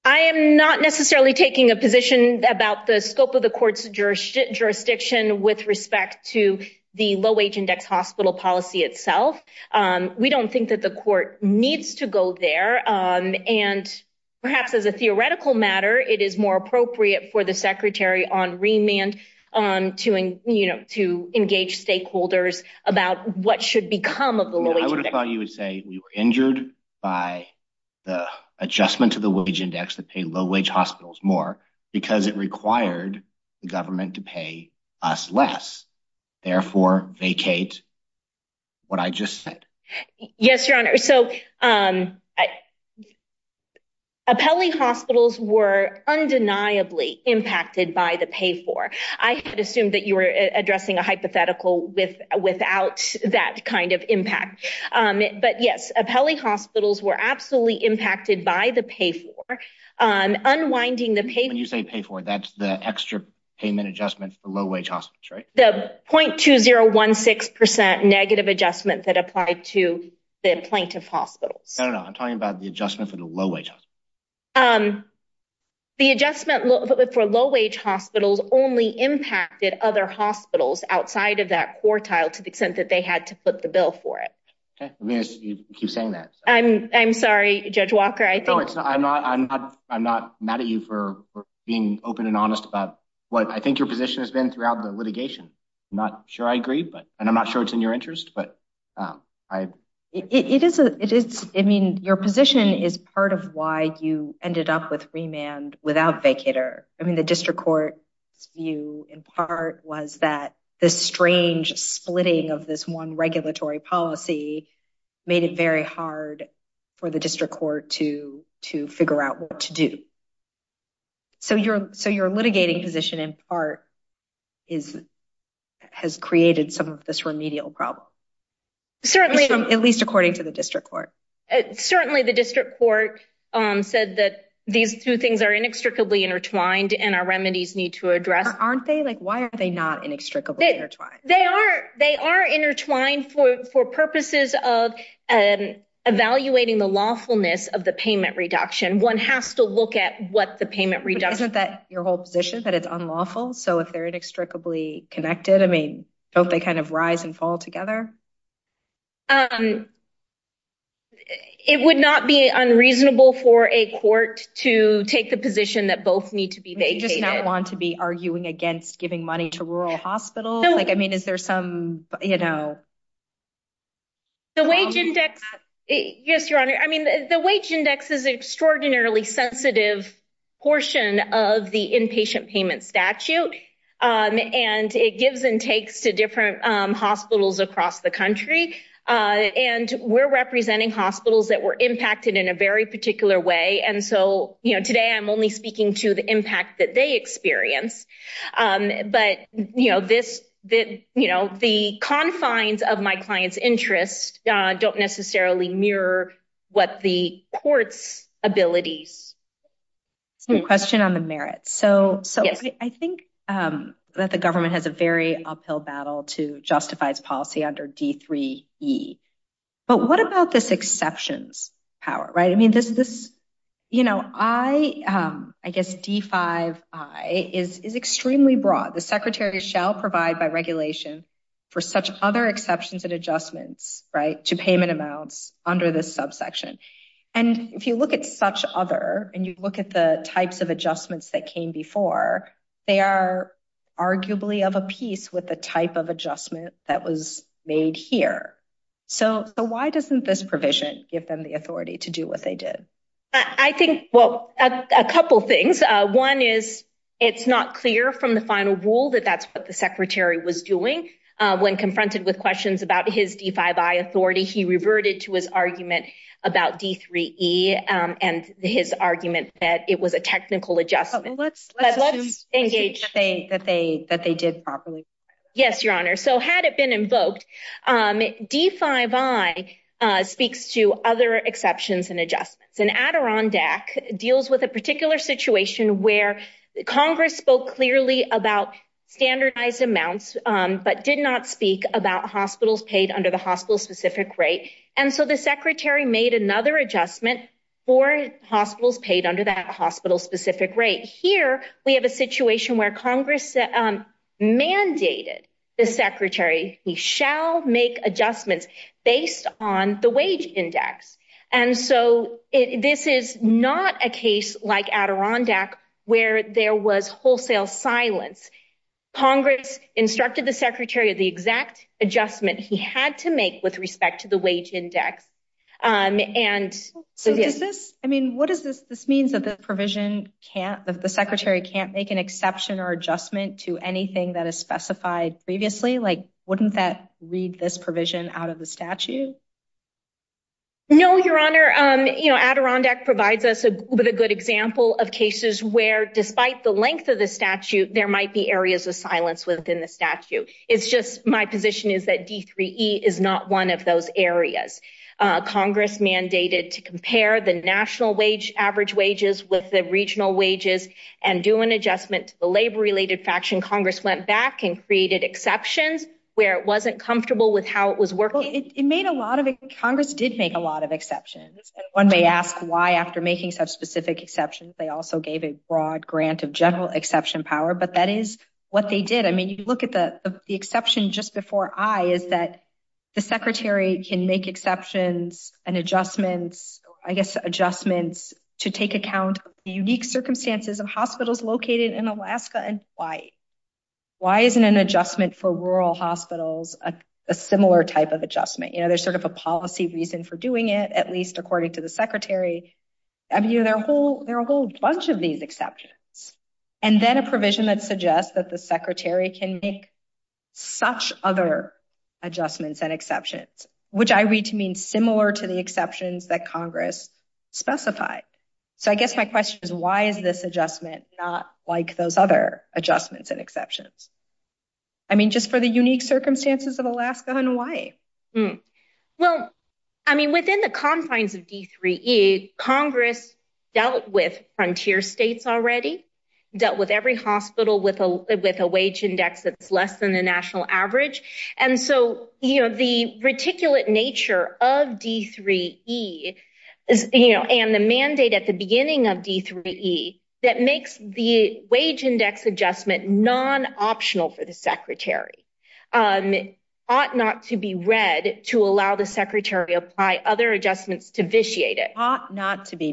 am not necessarily taking a position about the scope of the court's jurisdiction with respect to the low-wage index hospital policy itself. We don't think that the court needs to go there. And perhaps as a theoretical matter, it is more appropriate for the Secretary on remand to engage stakeholders about what should become of the low-wage- I would have thought you would say we were injured by the adjustment to the wage index to pay low-wage hospitals more because it required the government to pay us less. Therefore, vacate what I just said. Yes, Your Honor. So, Apelli hospitals were undeniably impacted by the pay-for. I had assumed that you were addressing a hypothetical without that kind of impact. But yes, Apelli hospitals were absolutely impacted by the pay-for. Unwinding the pay-for- When you say pay-for, that's the extra payment adjustment for low-wage hospitals, right? The .2016% negative adjustment that applied to the plaintiff hospitals. No, no, no. I'm talking about the adjustment for the low-wage hospitals. The adjustment for low-wage hospitals only impacted other hospitals outside of that quartile to the extent that they had to put the bill for it. Okay. You keep saying that. I'm sorry, Judge Walker. No, I'm not mad at you for being open and honest about what I think your position has been throughout the litigation. I'm not sure I agree, and I'm not sure it's in your interest. I mean, your position is part of why you ended up with remand without vacater. I mean, the district court's view in part was that this strange splitting of this one regulatory policy made it very hard for the district court to figure out what to do. So your litigating position in part has created some of this remedial problem, at least according to the district court. Certainly, the district court said that these two things are inextricably intertwined and our remedies need to address- Aren't they? Why are they not inextricably intertwined? They are intertwined for purposes of evaluating the lawfulness of the payment reduction. One has to look at what the payment reduction- But isn't that your whole position, that it's unlawful? So if they're inextricably connected, I mean, don't they kind of rise and fall together? It would not be unreasonable for a court to take the position that both need to be vacated. Do you just not want to be arguing against giving money to rural hospitals? No. Like, I mean, is there some, you know- The wage index, yes, your honor. I mean, the wage index is an extraordinarily sensitive portion of the inpatient payment statute, and it gives and takes to different hospitals across the country. And we're representing hospitals that were impacted in a very particular way. And so, you know, today I'm only speaking to the impact that they experience. But, you know, the confines of my client's interest don't necessarily mirror what the court's abilities. Some question on the merits. So I think that the government has a very uphill battle to justify its policy under D3E. But what about this exceptions power, right? This, you know, I guess D5I is extremely broad. The secretary shall provide by regulation for such other exceptions and adjustments, right, to payment amounts under this subsection. And if you look at such other, and you look at the types of adjustments that came before, they are arguably of a piece with the type of adjustment that was made here. So why doesn't this provision give them the authority to do what they did? I think, well, a couple things. One is, it's not clear from the final rule that that's what the secretary was doing. When confronted with questions about his D5I authority, he reverted to his argument about D3E and his argument that it was a technical adjustment. Let's assume that they did properly. Yes, Your Honor. So had it been invoked, D5I speaks to other exceptions and adjustments. And Adirondack deals with a particular situation where Congress spoke clearly about standardized amounts, but did not speak about hospitals paid under the hospital-specific rate. And so the secretary made another adjustment for hospitals paid under that hospital-specific rate. Here, we have a situation where Congress mandated the secretary, he shall make adjustments based on the wage index. And so this is not a case like Adirondack, where there was wholesale silence. Congress instructed the secretary of the exact adjustment he had to make with respect to the wage index. And so does this, I mean, what does this, this means that the provision can't, the secretary can't make an exception or adjustment to anything that is specified previously, like, wouldn't that read this provision out of the statute? No, Your Honor, you know, Adirondack provides us with a good example of cases where despite the length of the statute, there might be areas of silence within the statute. It's just my position is that D3E is not one of those areas. Congress mandated to compare the national wage, average wages with the regional wages and do an adjustment to the labor-related faction. Congress went back and created exceptions where it wasn't comfortable with how it was working. It made a lot of it. Congress did make a lot of exceptions. One may ask why after making such specific exceptions, they also gave a broad grant of general exception power, but that is what they did. I mean, you look at the exception just before I is that the secretary can make exceptions and adjustments, I guess, adjustments to take account of the unique circumstances of hospitals located in Alaska and Hawaii. Why isn't an adjustment for rural hospitals, a similar type of adjustment? You know, there's sort of a policy reason for doing it, at least according to the secretary. I mean, you know, there are a whole bunch of these exceptions. And then a provision that suggests that the secretary can make such other adjustments and exceptions, which I read to mean similar to the exceptions that Congress specified. So I guess my question is, why is this adjustment not like those other adjustments and exceptions? I mean, just for the unique circumstances of Alaska and Hawaii. Well, I mean, within the confines of D3E, Congress dealt with frontier states already, dealt with every hospital with a wage index that's less than the national average. And so, you know, the reticulate nature of D3E, you know, and the mandate at the beginning of D3E that makes the wage index adjustment non-optional for the secretary ought not to be read to allow the secretary apply other adjustments to vitiate it.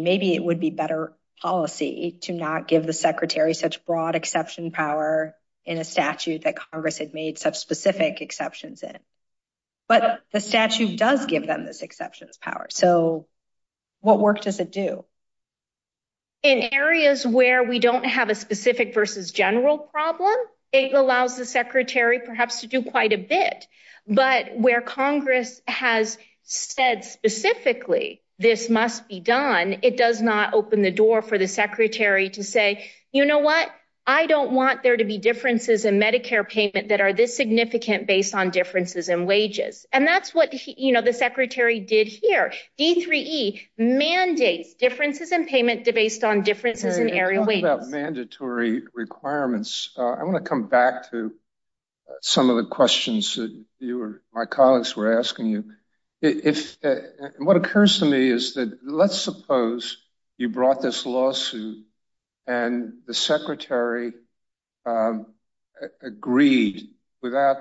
Maybe it would be better policy to not give the secretary such broad exception power in a statute that Congress had made such specific exceptions in. But the statute does give them this exceptions power. So what work does it do? In areas where we don't have a specific versus general problem, it allows the secretary perhaps to do quite a bit. But where Congress has said specifically this must be done, it does not open the door for the secretary to say, you know what, I don't want there to be differences in Medicare payment that are this significant based on differences in wages. And that's what, you know, the secretary did here. D3E mandates differences in payment based on differences in area wages. Mandatory requirements. I want to come back to some of the questions that you or my colleagues were asking you. What occurs to me is that let's suppose you brought this lawsuit and the secretary agreed without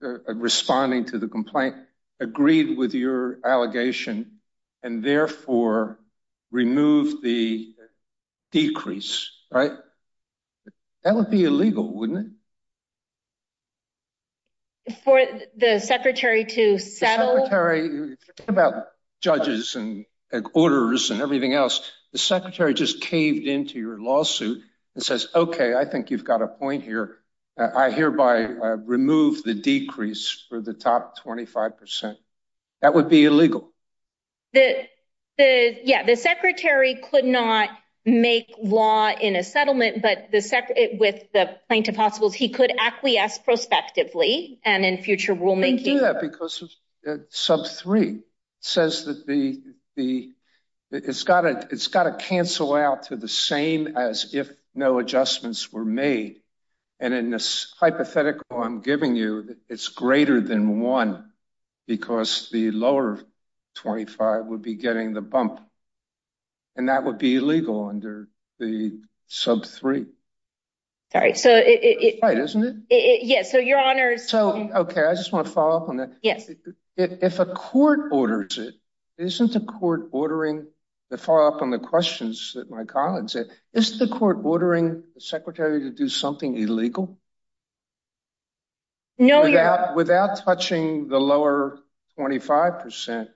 responding to the complaint, agreed with your allegation, and therefore removed the decrease, right? That would be illegal, wouldn't it? For the secretary to settle? The secretary, think about judges and orders and everything else. The secretary just caved into your lawsuit and says, OK, I think you've got a point here. I hereby remove the decrease for the top 25%. That would be illegal. The, yeah, the secretary could not make law in a settlement, but with the plaintiff hostiles, he could acquiesce prospectively. And in future rulemaking. They do that because sub three says that the, it's got to cancel out to the same as if no adjustments were made. And in this hypothetical I'm giving you, it's greater than one because the lower 25 would be getting the bump. And that would be illegal under the sub three. All right. So it isn't it? Yeah. So your honors. So, OK, I just want to follow up on that. Yes. If a court orders it, isn't the court ordering the follow up on the questions that my colleagues it is the court ordering the secretary to do something illegal. No, without without touching the lower 25%,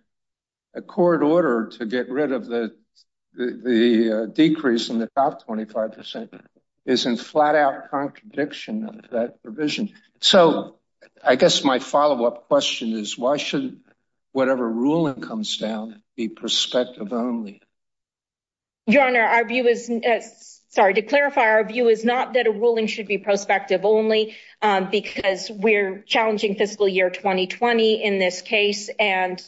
a court order to get rid of the the decrease in the top 25% isn't flat out contradiction that provision. So I guess my follow up question is why should whatever ruling comes down be perspective only. Your honor, our view is sorry to clarify. Our view is not that a ruling should be perspective only because we're challenging fiscal year 2020 in this case. And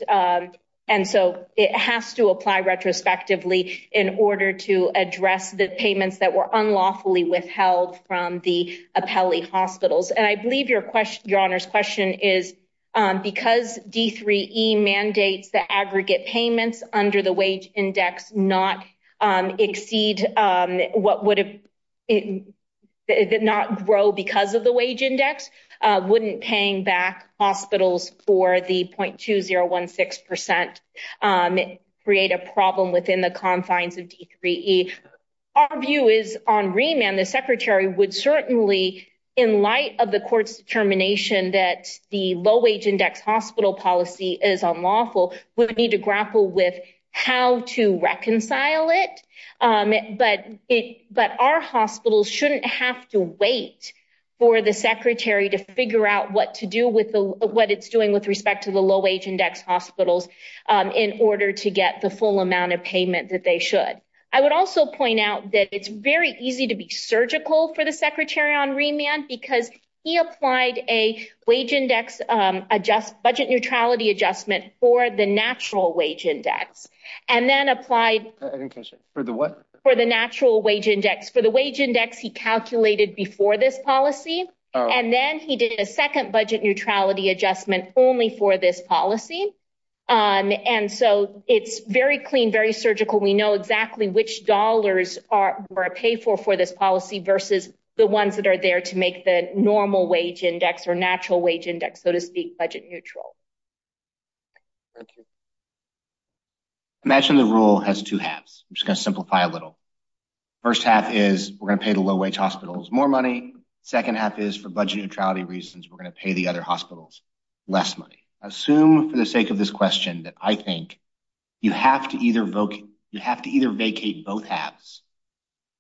and so it has to apply retrospectively in order to address the payments that were unlawfully withheld from the appellee hospitals. And I believe your question, your honors question is because D3E mandates the aggregate payments under the wage index not exceed what would have not grow because of the wage index, wouldn't paying back hospitals for the point to zero one six percent create a problem within the confines of D3E. Our view is on remand. The secretary would certainly in light of the court's determination that the low wage hospital policy is unlawful. We need to grapple with how to reconcile it. But it but our hospitals shouldn't have to wait for the secretary to figure out what to do with what it's doing with respect to the low wage index hospitals in order to get the full amount of payment that they should. I would also point out that it's very easy to be surgical for the secretary on remand because he applied a wage index adjust budget neutrality adjustment for the natural wage index and then applied for the what for the natural wage index for the wage index. He calculated before this policy and then he did a second budget neutrality adjustment only for this policy. And so it's very clean, very surgical. We know exactly which dollars are paid for for this policy versus the ones that are there to make the normal wage index or natural wage index, so to speak, budget neutral. Imagine the rule has two halves. I'm just going to simplify a little. First half is we're going to pay the low wage hospitals more money. Second half is for budget neutrality reasons. We're going to pay the other hospitals less money. Assume for the sake of this question that I think you have to either vote. You have to either vacate both halves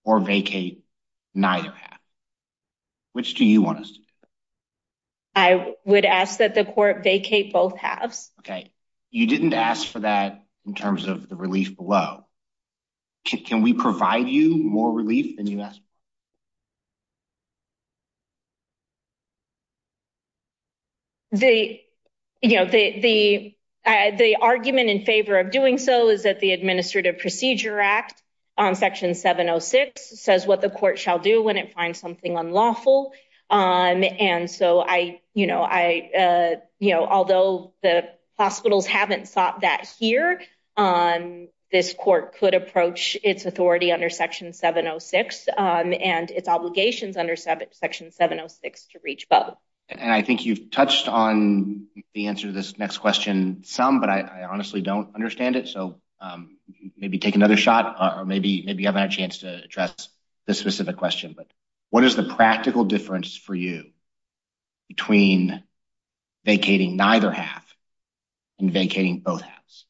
or vacate neither half. Which do you want us to do? I would ask that the court vacate both halves. Okay. You didn't ask for that in terms of the relief below. Can we provide you more relief than you asked? The, you know, the argument in favor of doing so is that the administrative procedure act on section 706 says what the court shall do when it finds something unlawful. And so I, you know, I, you know, although the hospitals haven't sought that here, this court could approach its authority under section 706 and its obligations under section 706 to reach both. And I think you've touched on the answer to this next question some, but I honestly don't understand it. So maybe take another shot or maybe you have a chance to address this specific question. But what is the practical difference for you between vacating neither half and vacating both halves?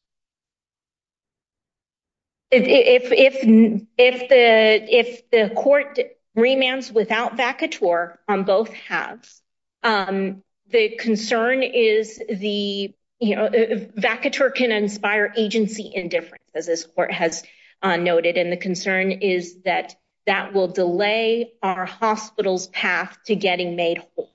If the court remands without vacateur on both halves, the concern is the, you know, vacateur can inspire agency indifference, as this court has noted. And the concern is that that will delay our hospital's path to getting made whole.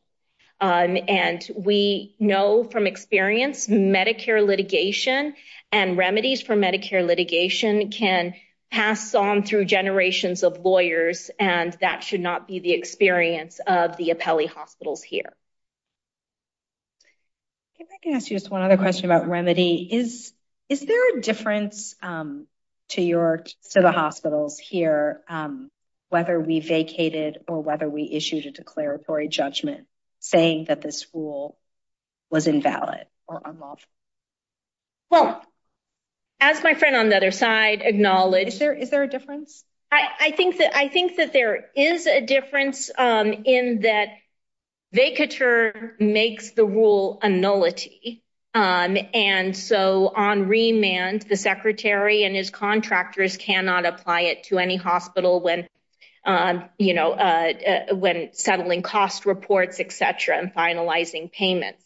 And we know from experience, Medicare litigation and remedies for Medicare litigation can pass on through generations of lawyers. And that should not be the experience of the appellee hospitals here. If I can ask you just one other question about remedy is, is there a difference to your, to the hospitals here, whether we vacated or whether we issued a declaratory judgment saying that this rule was invalid or unlawful? Well, as my friend on the other side acknowledged, Is there, is there a difference? I think that I think that there is a difference in that vacateur makes the rule a nullity. And so on remand, the secretary and his contractors cannot apply it to any hospital when, you know, when settling cost reports, et cetera, and finalizing payments.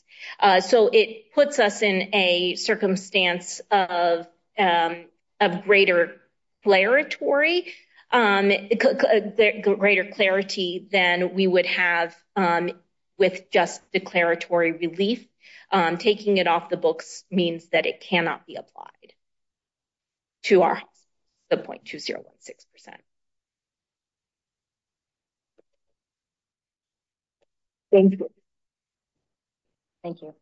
So it puts us in a circumstance of, of greater player Tory, greater clarity than we would have with just declaratory relief, taking it off the books means that it cannot be applied to our point to 0.16%. Thank you. Thank you.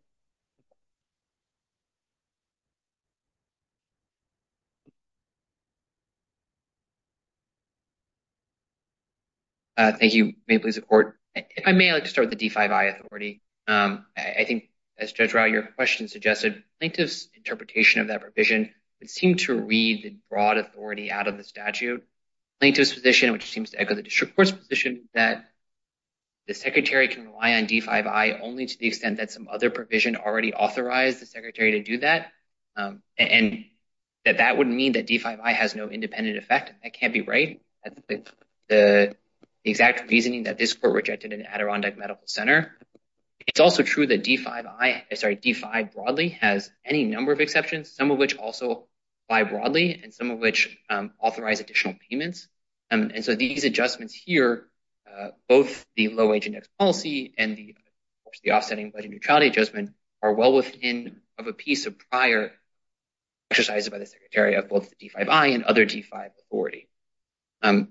Thank you. May please report. If I may, I'd like to start with the D5I authority. I think as Judge Rau, your question suggested plaintiff's interpretation of that provision would seem to read the broad authority out of the statute plaintiff's position, which seems to echo the district court's position that the secretary can rely on D5I only to the extent that some other provision already authorized the secretary to do that. And that that wouldn't mean that D5I has no independent effect. That can't be right. The exact reasoning that this court rejected in Adirondack Medical Center. It's also true that D5I broadly has any number of exceptions, some of which also apply broadly and some of which authorize additional payments. And so these adjustments here, both the low-wage index policy and the offsetting budget neutrality adjustment are well within of a piece of prior exercises by the secretary of both the D5I and other D5 authority. On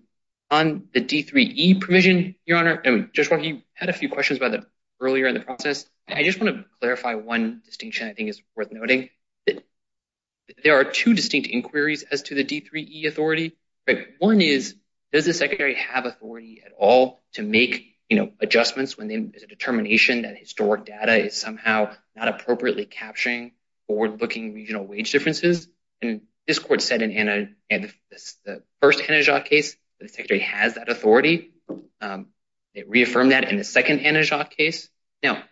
the D3E provision, your honor, Judge Rau, you had a few questions about that earlier in the process. I just want to clarify one distinction I think is worth noting. There are two distinct inquiries as to the D3E authority. One is, does the secretary have authority at all to make adjustments when there's a determination that historic data is somehow not appropriately capturing forward-looking regional wage differences? And this court said in the first Hanajat case that the secretary has that authority. It reaffirmed that in the second Hanajat case. Now,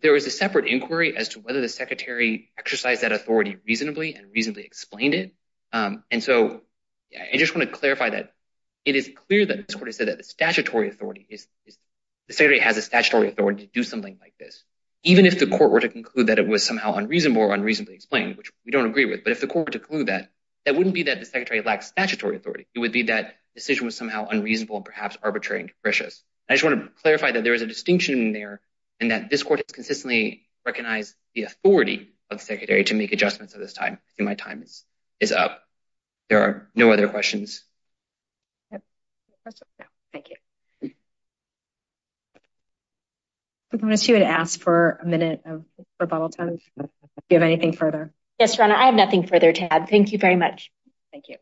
there was a separate inquiry as to whether the secretary exercised that authority reasonably and reasonably explained it. And so I just want to clarify that it is clear that this court has said that the statutory authority is, the secretary has a statutory authority to do something like this, even if the court were to conclude that it was somehow unreasonable or unreasonably explained, which we don't agree with. But if the court were to conclude that, that wouldn't be that the secretary lacks statutory authority. It would be that decision was somehow unreasonable and perhaps arbitrary and capricious. I just want to clarify that there is a distinction in there and that this court has consistently recognized the authority of the secretary to make adjustments at this time. My time is up. There are no other questions. Thank you. I'm going to ask for a minute of rebuttal time. Do you have anything further? Yes, Your Honor. I have nothing further to add. Thank you very much. Thank you.